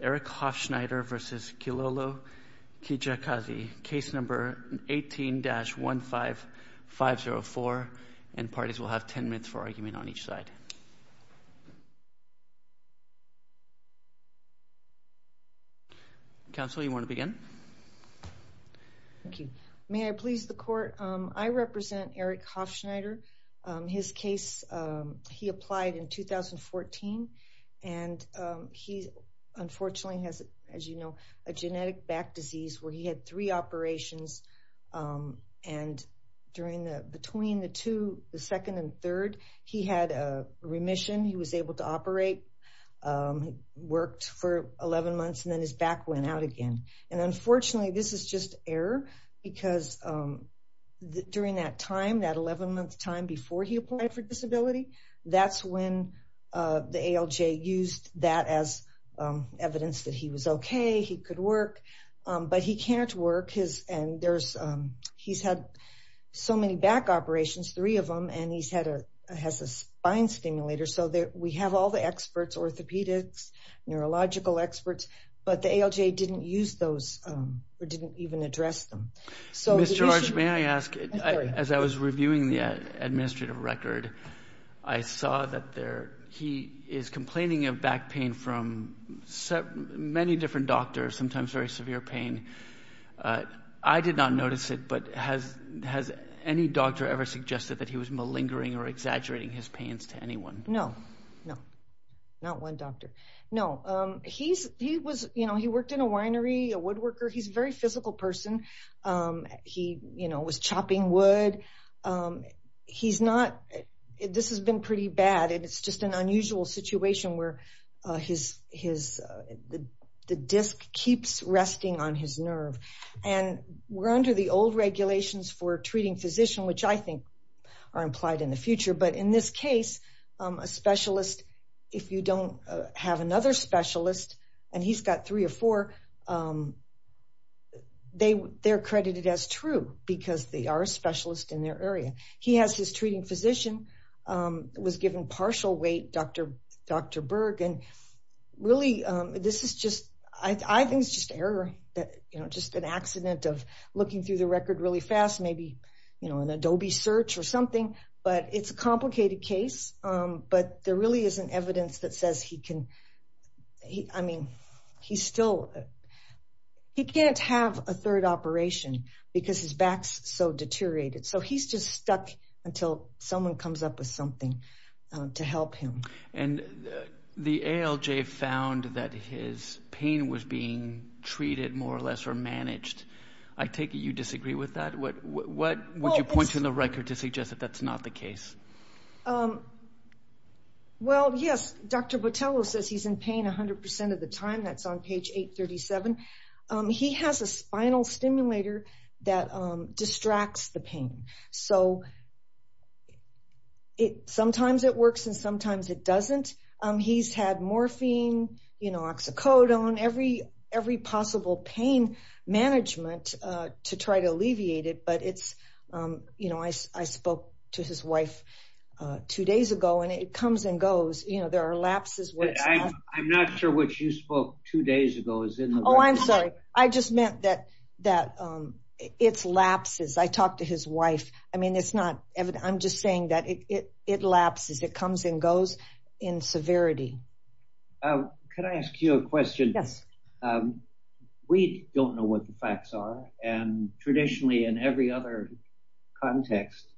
Eric Hoffschneider v. Kilolo Kijakazi, case number 18-15504, and parties will have 10 minutes for argument on each side. Counsel, you wanna begin? Thank you. May I please the court? I represent Eric Hoffschneider. His case, he applied in 2014, and he unfortunately has, as you know, a genetic back disease where he had three operations. And during the, between the two, the second and third, he had a remission. He was able to operate, worked for 11 months, and then his back went out again. And unfortunately, this is just error, because during that time, that 11 month time before he applied for disability, that's when the ALJ used that as evidence that he was okay, he could work. But he can't work, and there's, he's had so many back operations, three of them, and he's had a, has a spine stimulator. So we have all the experts, orthopedics, neurological experts, but the ALJ didn't use those, or didn't even address them. So the issue- Ms. George, may I ask, as I was reviewing the administrative record, I saw that there, he is complaining of back pain from many different doctors, sometimes very severe pain. I did not notice it, but has any doctor ever suggested that he was malingering or exaggerating his pains to anyone? No, no, not one doctor. No, he's, he was, you know, he worked in a winery, a woodworker. He's a very physical person. He, you know, was chopping wood. He's not, this has been pretty bad, and it's just an unusual situation where his, his, the disc keeps resting on his nerve. And we're under the old regulations for treating physician, which I think are implied in the future. But in this case, a specialist, if you don't have another specialist, and he's got three or four, they, they're credited as true, because they are a specialist in their area. He has his treating physician, was given partial weight, Dr. Berg, and really, this is just, I think it's just error, that, you know, just an accident of looking through the record really fast, maybe, you know, an Adobe search or something, but it's a complicated case, but there really isn't evidence that says he can, I mean, he's still, he can't have a third operation because his back's so deteriorated. So he's just stuck until someone comes up with something to help him. And the ALJ found that his pain was being treated more or less, or managed. I take it you disagree with that? What, what would you point to in the record to suggest that that's not the case? Well, yes, Dr. Botello says he's in pain 100% of the time, that's on page 837. He has a spinal stimulator that distracts the pain. So it, sometimes it works and sometimes it doesn't. He's had morphine, you know, oxycodone, every possible pain management to try to alleviate it, but it's, you know, I spoke to his wife two days ago and it comes and goes, you know, there are lapses. I'm not sure what you spoke two days ago is in the record. I just meant that it's lapses. I talked to his wife. I mean, it's not evident. I'm just saying that it lapses, it comes and goes in severity. Can I ask you a question? Yes. We don't know what the facts are. And traditionally in every other context,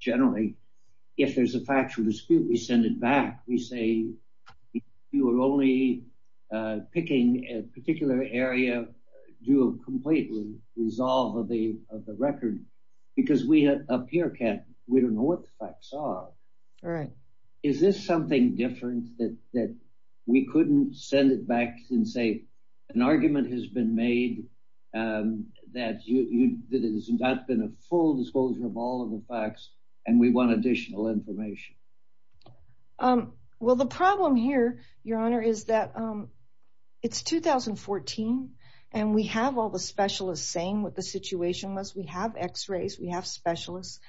generally, if there's a factual dispute, we send it back. We say, you are only picking a particular area due to completely resolve of the record because we have a peer camp. We don't know what the facts are. Right. Is this something different that we couldn't send it back and say an argument has been made that it has not been a full disclosure of all of the facts and we want additional information? Well, the problem here, Your Honor, is that it's 2014 and we have all the specialists saying what the situation was. We have x-rays, we have specialists.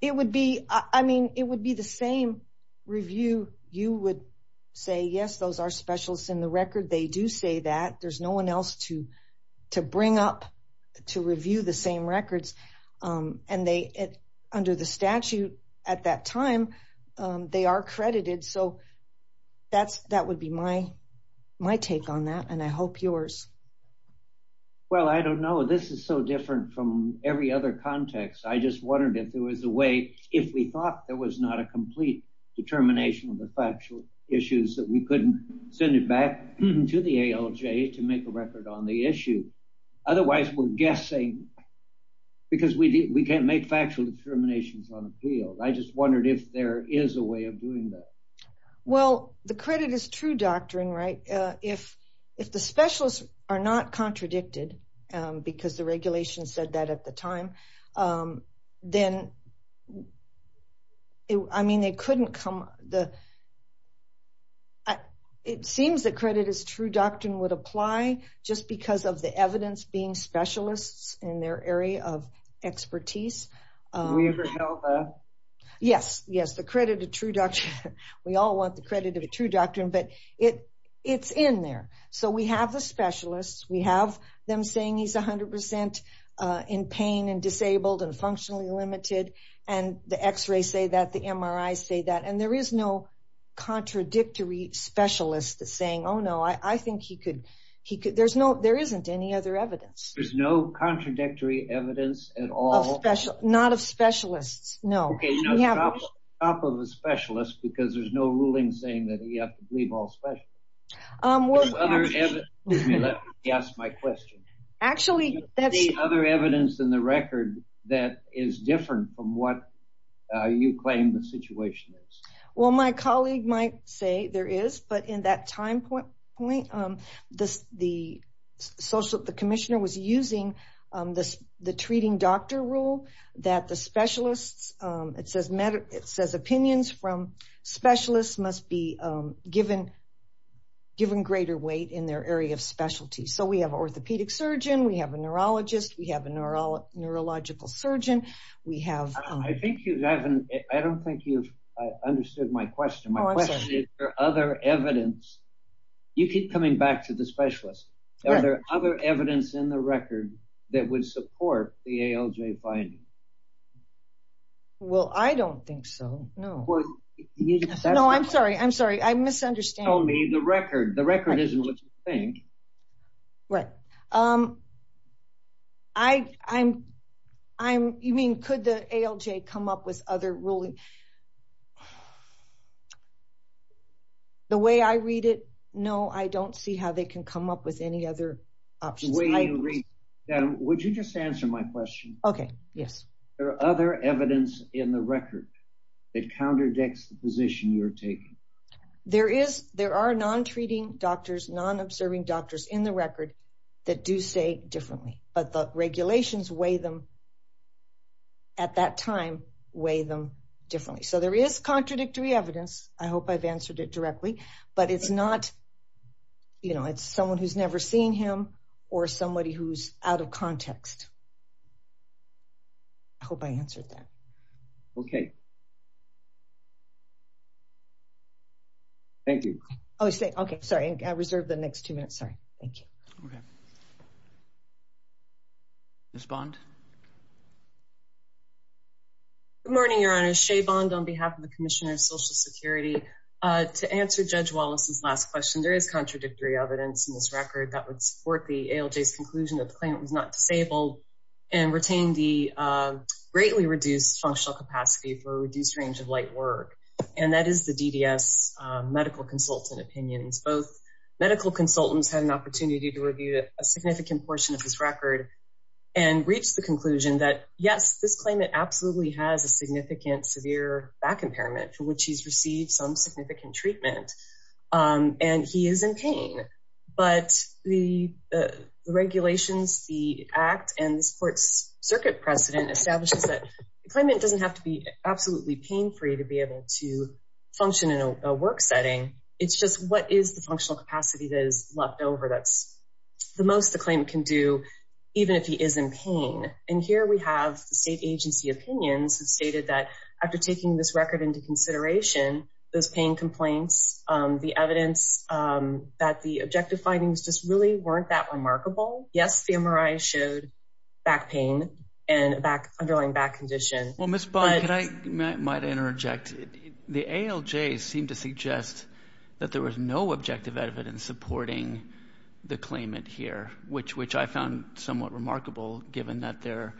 It would be, I mean, it would be the same review. You would say, yes, those are specialists in the record. They do say that. There's no one else to bring up to review the same records. And under the statute at that time, they are credited. So that would be my take on that and I hope yours. Well, I don't know. This is so different from every other context. I just wondered if there was a way, if we thought there was not a complete determination of the factual issues that we couldn't send it back to the ALJ to make a record on the issue. Otherwise, we're guessing because we can't make factual determinations on appeal. I just wondered if there is a way of doing that. Well, the credit is true doctrine, right? If the specialists are not contradicted because the regulation said that at the time, then, I mean, they couldn't come, it seems that credit is true doctrine would apply just because of the evidence being specialists in their area of expertise. Do we ever know that? Yes, yes, the credit of true doctrine. We all want the credit of a true doctrine, but it's in there. So we have the specialists, we have them saying he's 100% in pain and disabled and functionally limited. And the x-ray say that, the MRI say that, and there is no contradictory specialist that's saying, oh, no, I think he could, there isn't any other evidence. There's no contradictory evidence at all. Not of specialists, no. Okay, no, top of a specialist because there's no ruling saying that you have to believe all specialists. You asked my question. Actually, that's- Is there any other evidence in the record that is different from what you claim the situation is? Well, my colleague might say there is, but in that time point, the commissioner was using the treating doctor rule that the specialists, it says opinions from specialists must be given greater weight in their area of specialty. So we have orthopedic surgeon, we have a neurologist, we have a neurological surgeon, we have- I think you haven't, I don't think you've understood my question. My question is, are there other evidence? You keep coming back to the specialist. Are there other evidence in the record that would support the ALJ finding? Well, I don't think so, no. No, I'm sorry, I'm sorry. I'm misunderstanding. Tell me the record. The record isn't what you think. Right. You mean, could the ALJ come up with other ruling? The way I read it, no, I don't see how they can come up with any other options. The way you read, would you just answer my question? Okay, yes. Are there other evidence in the record that contradicts the position you're taking? There are non-treating doctors, non-observing doctors in the record that do say differently, but the regulations weigh them at that time, weigh them differently. So there is contradictory evidence. I hope I've answered it directly, but it's not, you know, it's someone who's never seen him or somebody who's out of context. I hope I answered that. Okay. Thank you. Oh, okay, sorry. I reserved the next two minutes, sorry. Thank you. Ms. Bond. Good morning, Your Honor. Ms. Shea Bond on behalf of the Commissioner of Social Security. To answer Judge Wallace's last question, there is contradictory evidence in this record that would support the ALJ's conclusion that the claimant was not disabled and retained the greatly reduced functional capacity for a reduced range of light work. And that is the DDS medical consultant opinions. Both medical consultants had an opportunity to review a significant portion of this record and reached the conclusion that yes, this claimant absolutely has a significant severe back impairment from which he's received some significant treatment and he is in pain. But the regulations, the act and this court's circuit precedent establishes that the claimant doesn't have to be absolutely pain-free to be able to function in a work setting. It's just what is the functional capacity that is left over that's the most the claim can do even if he is in pain. And here we have the state agency opinions have stated that after taking this record into consideration those pain complaints, the evidence that the objective findings just really weren't that remarkable. Yes, the MRI showed back pain and underlying back condition. Well, Ms. Bond, can I might interject. The ALJ seemed to suggest that there was no objective evidence supporting the claimant here, which I found somewhat remarkable given that there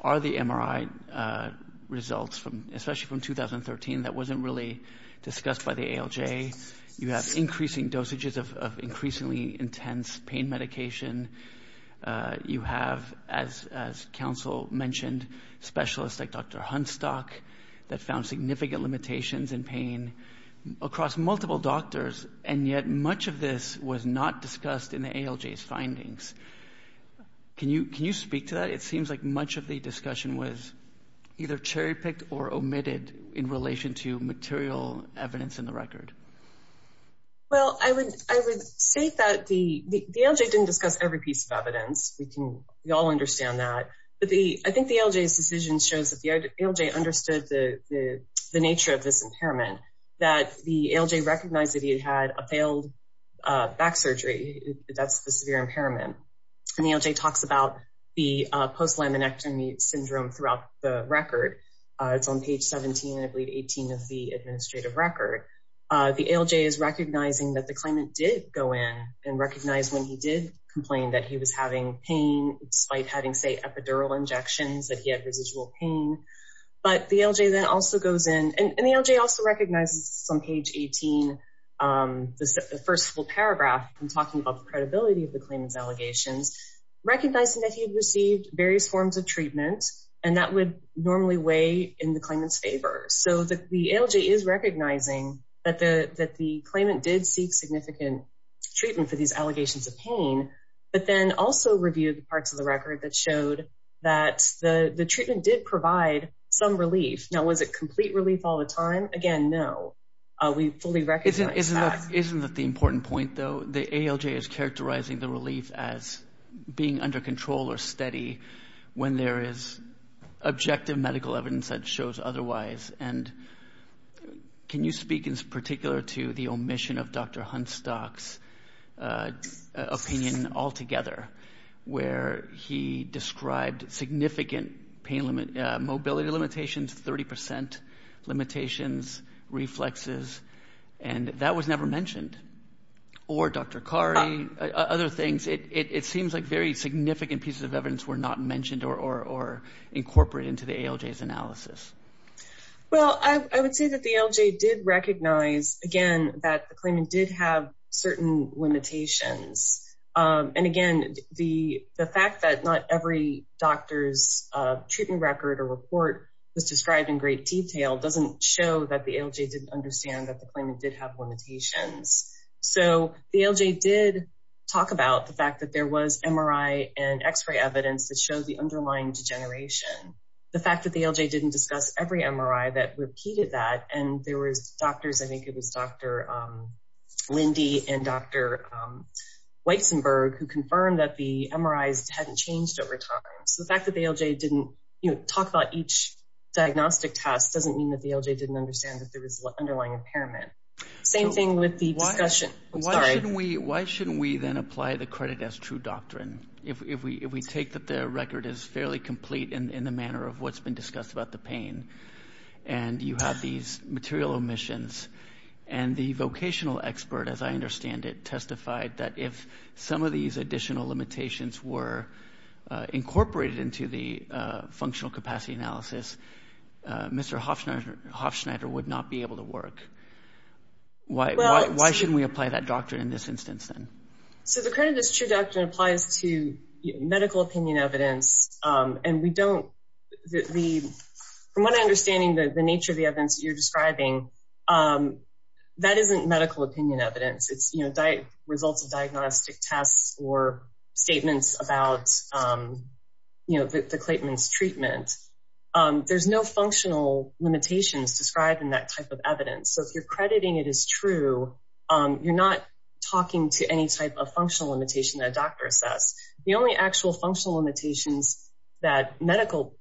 are the MRI results especially from 2013 that wasn't really discussed by the ALJ. You have increasing dosages of increasingly intense pain medication. You have, as counsel mentioned, specialists like Dr. Hunstock that found significant limitations in pain across multiple doctors and yet much of this was not discussed in the ALJ's findings. Can you speak to that? It seems like much of the discussion was either cherry picked or omitted in relation to material evidence in the record. Well, I would say that the ALJ didn't discuss every piece of evidence. We can, we all understand that. But the, I think the ALJ's decision shows that the ALJ understood the nature of this impairment that the ALJ recognized that he had a failed back surgery. That's the severe impairment. And the ALJ talks about the post-laminectomy syndrome throughout the record. It's on page 17, I believe 18 of the administrative record. The ALJ is recognizing that the claimant did go in and recognize when he did complain that he was having pain despite having say epidural injections that he had residual pain. But the ALJ then also goes in and the ALJ also recognizes on page 18, the first full paragraph in talking about the credibility of the claimant's allegations, recognizing that he had received various forms of treatment and that would normally weigh in the claimant's favor. So the ALJ is recognizing that the claimant did seek significant treatment for these allegations of pain, but then also reviewed the parts of the record that showed that the treatment did provide some relief. Now, was it complete relief all the time? Again, no. We fully recognize that. Isn't that the important point though? The ALJ is characterizing the relief as being under control or steady when there is objective medical evidence that shows otherwise. And can you speak in particular to the omission of Dr. Hunstock's opinion altogether, where he described significant mobility limitations, 30% limitations, reflexes, and that was never mentioned. Or Dr. Cardi, other things. It seems like very significant pieces of evidence were not mentioned or incorporated into the ALJ's analysis. Well, I would say that the ALJ did recognize, again, that the claimant did have certain limitations. And again, the fact that not every doctor's treatment record or report was described in great detail doesn't show that the ALJ didn't understand that the claimant did have limitations. So the ALJ did talk about the fact that there was MRI and x-ray evidence that shows the underlying degeneration. The fact that the ALJ didn't discuss every MRI that repeated that, and there was doctors, I think it was Dr. Lindy and Dr. Weissenberg who confirmed that the MRIs hadn't changed over time. So the fact that the ALJ didn't talk about each diagnostic test doesn't mean that the ALJ didn't understand that there was underlying impairment. Same thing with the discussion, I'm sorry. Why shouldn't we then apply the credit as true doctrine? If we take that the record is fairly complete in the manner of what's been discussed about the pain, and you have these material omissions, and the vocational expert, as I understand it, testified that if some of these additional limitations were incorporated into the functional capacity analysis, Mr. Hofschneider would not be able to work. Why shouldn't we apply that doctrine in this instance then? So the credit as true doctrine applies to medical opinion evidence, and we don't, from what I'm understanding, the nature of the evidence that you're describing, that isn't medical opinion evidence. It's results of diagnostic tests or statements about the claimant's treatment. There's no functional limitations described in that type of evidence. So if you're crediting it as true, you're not talking to any type of functional limitation that a doctor assessed. The only actual functional limitations that medical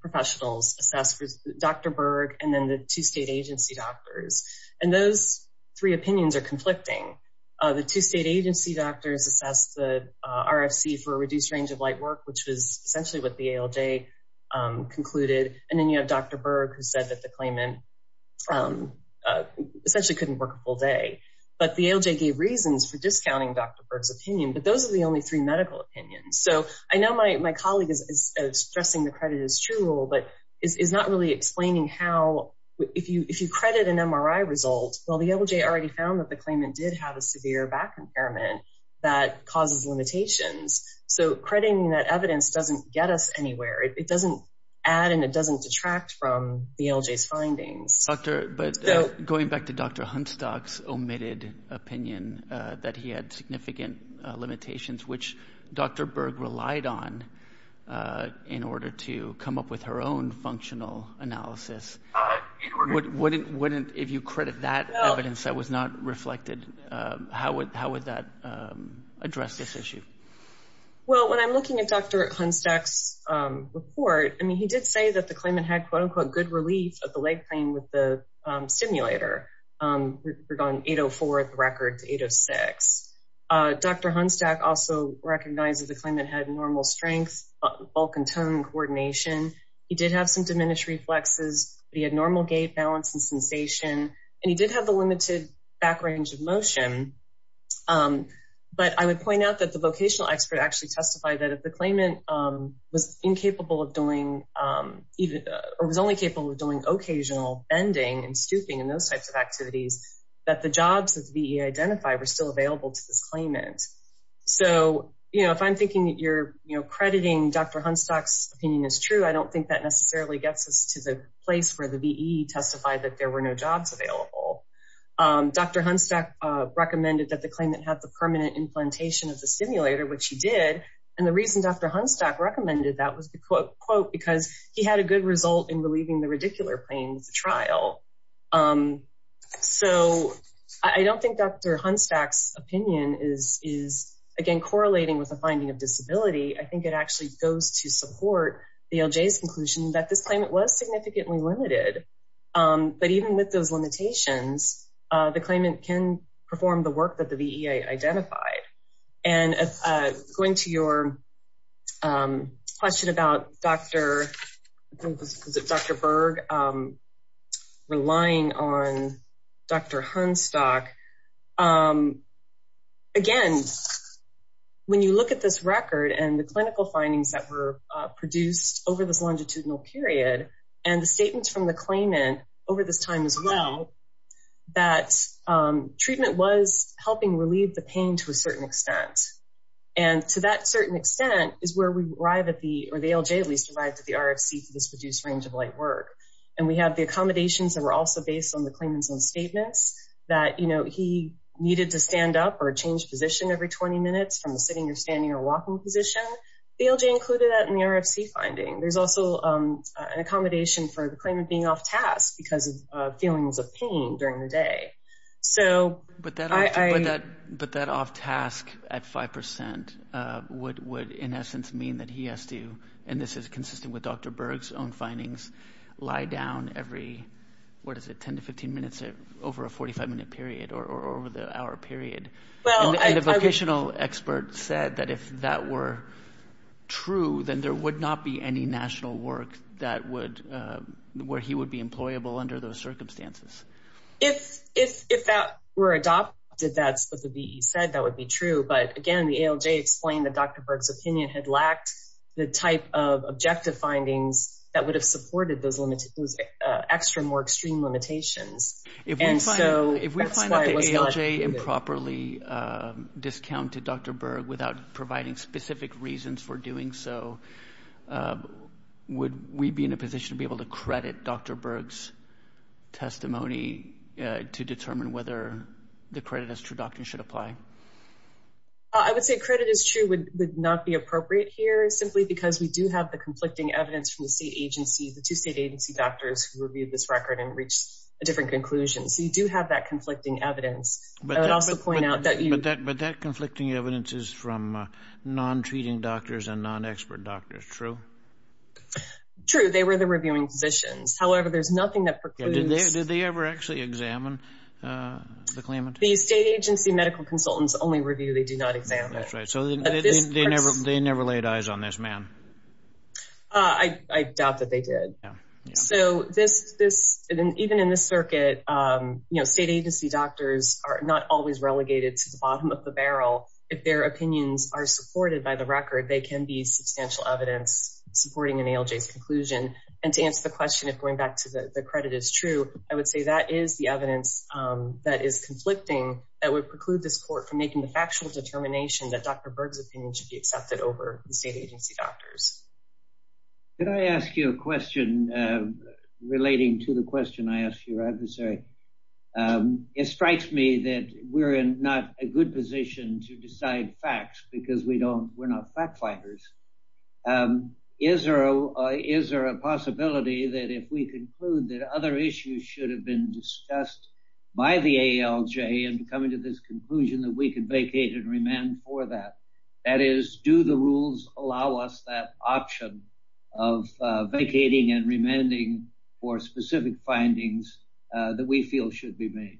professionals assessed was Dr. Berg, and then the two state agency doctors, and those three opinions are conflicting. The two state agency doctors assessed the RFC for a reduced range of light work, which was essentially what the ALJ concluded, and then you have Dr. Berg who said that the claimant essentially couldn't work a full day. But the ALJ gave reasons for discounting Dr. Berg's opinion, but those are the only three medical opinions. So I know my colleague is stressing the credit as true rule, but is not really explaining how, if you credit an MRI result, well, the ALJ already found that the claimant did have a severe back impairment that causes limitations. So crediting that evidence doesn't get us anywhere. It doesn't add and it doesn't detract from the ALJ's findings. But going back to Dr. Hunstock's omitted opinion that he had significant limitations, which Dr. Berg relied on in order to come up with her own functional analysis, if you credit that evidence that was not reflected, how would that address this issue? Well, when I'm looking at Dr. Hunstock's report, I mean, he did say that the claimant had quote, unquote, good relief of the leg pain with the stimulator. We're going 804 at the record to 806. Dr. Hunstock also recognized that the claimant had normal strength, bulk and tone coordination. He did have some diminished reflexes, but he had normal gait balance and sensation. And he did have the limited back range of motion. But I would point out that the vocational expert actually testified that if the claimant was only capable of doing occasional bending and stooping and those types of activities, that the jobs that the VE identified were still available to this claimant. So if I'm thinking that you're crediting Dr. Hunstock's opinion is true, I don't think that necessarily gets us to the place where the VE testified that there were no jobs available. Dr. Hunstock recommended that the claimant had the permanent implantation of the stimulator, which he did. And the reason Dr. Hunstock recommended that was the quote, because he had a good result in relieving the radicular pain with the trial. So I don't think Dr. Hunstock's opinion is, again, correlating with a finding of disability. I think it actually goes to support the LJ's conclusion that this claimant was significantly limited. But even with those limitations, the claimant can perform the work that the VE identified. And going to your question about Dr. Berg relying on Dr. Hunstock. Again, when you look at this record and the clinical findings that were produced over this longitudinal period, and the statements from the claimant over this time as well that treatment was helping relieve the pain to a certain extent. And to that certain extent is where we arrive at the, or the LJ at least arrived at the RFC for this reduced range of light work. And we have the accommodations that were also based on the claimant's own statements that he needed to stand up or change position every 20 minutes from the sitting or standing or walking position. The LJ included that in the RFC finding. There's also an accommodation for the claimant being off task because of feelings of pain during the day. So I- But that off task at 5% would in essence mean that he has to, and this is consistent with Dr. Berg's own findings, lie down every, what is it, 10 to 15 minutes over a 45 minute period or over the hour period. Well- And a vocational expert said that if that were true, then there would not be any national work that would, where he would be employable under those circumstances. If that were adopted, that's what the VE said, that would be true. But again, the ALJ explained that Dr. Berg's opinion had lacked the type of objective findings that would have supported those extra, more extreme limitations. And so- If we find out the ALJ improperly discounted Dr. Berg without providing specific reasons for doing so, would we be in a position to be able to credit Dr. Berg's testimony to determine whether the credit is true doctrine should apply? I would say credit is true would not be appropriate here simply because we do have the conflicting evidence from the state agency, the two state agency doctors who reviewed this record and reached a different conclusion. So you do have that conflicting evidence. I would also point out that you- The state agency doctors reviewed this record from non-treating doctors and non-expert doctors, true? True, they were the reviewing physicians. However, there's nothing that precludes- Did they ever actually examine the claimant? The state agency medical consultants only review, they do not examine. That's right, so they never laid eyes on this man? I doubt that they did. So this, even in this circuit, state agency doctors are not always relegated to the bottom of the barrel. If their opinions are supported by the record, they can be substantial evidence supporting an ALJ's conclusion. And to answer the question, if going back to the credit is true, I would say that is the evidence that is conflicting that would preclude this court from making the factual determination that Dr. Berg's opinion should be accepted over the state agency doctors. Can I ask you a question relating to the question I asked your adversary? It strikes me that we're in not a good position to decide facts because we're not fact finders. Is there a possibility that if we conclude that other issues should have been discussed by the ALJ in coming to this conclusion that we could vacate and remand for that? That is, do the rules allow us that option of vacating and remanding for specific findings that we feel should be made?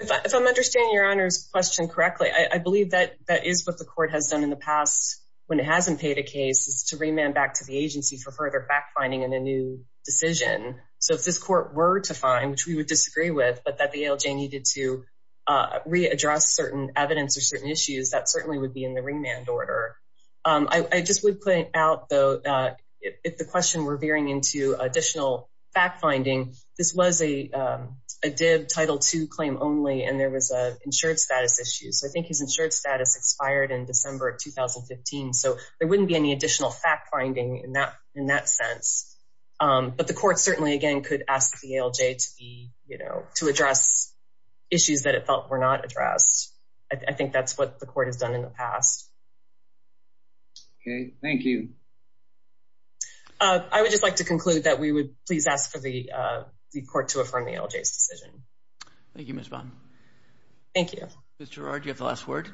If I'm understanding Your Honor's question correctly, I believe that that is what the court has done in the past when it hasn't paid a case, is to remand back to the agency for further fact finding in a new decision. So if this court were to find, which we would disagree with, but that the ALJ needed to readdress certain evidence or certain issues, that certainly would be in the remand order. I just would point out though, if the question were veering into additional fact finding, this was a Dib Title II claim only, and there was a insured status issue. So I think his insured status expired in December of 2015. So there wouldn't be any additional fact finding in that sense. But the court certainly again could ask the ALJ to address issues that it felt were not addressed. I think that's what the court has done in the past. Okay, thank you. I would just like to conclude that we would please ask for the court to affirm the ALJ's decision. Thank you, Ms. Vaughn. Thank you. Ms. Girard, do you have the last word?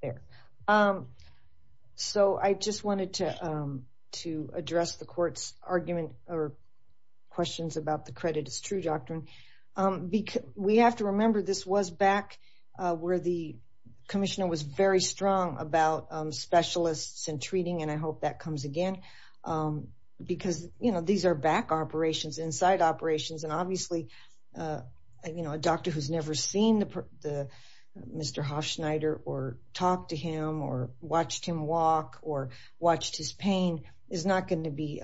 There. So I just wanted to address the court's argument or questions about the credit is true doctrine. Because we have to remember this was back where the commissioner was very strong about specialists and treating, and I hope that comes again. Because these are back operations, inside operations, and obviously a doctor who's never seen Mr. Hofschneider or talked to him or watched him walk or watched his pain is not going to be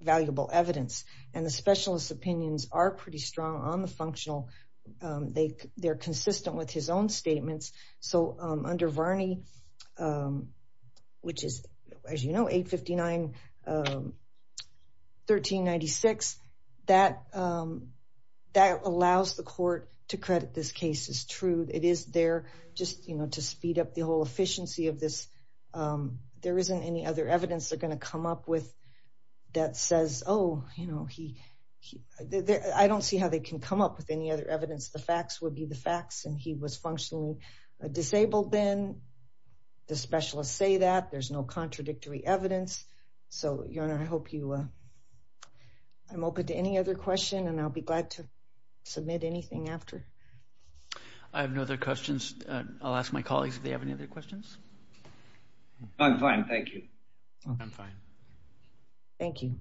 valuable evidence. And the specialist's opinions are pretty strong on the functional, they're consistent with his own statements. So under Varney, which is, as you know, 859-1396, that allows the court to credit this case is true. It is there just to speed up the whole efficiency of this. There isn't any other evidence they're gonna come up with that says, oh, I don't see how they can come up with any other evidence. The facts would be the facts, and he was functionally disabled then. The specialists say that, there's no contradictory evidence. So, Your Honor, I'm open to any other question, and I'll be glad to submit anything after. I have no other questions. I'll ask my colleagues if they have any other questions. I'm fine, thank you. I'm fine. Thank you.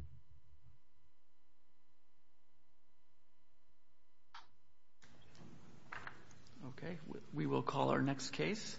Okay, we will call our next case.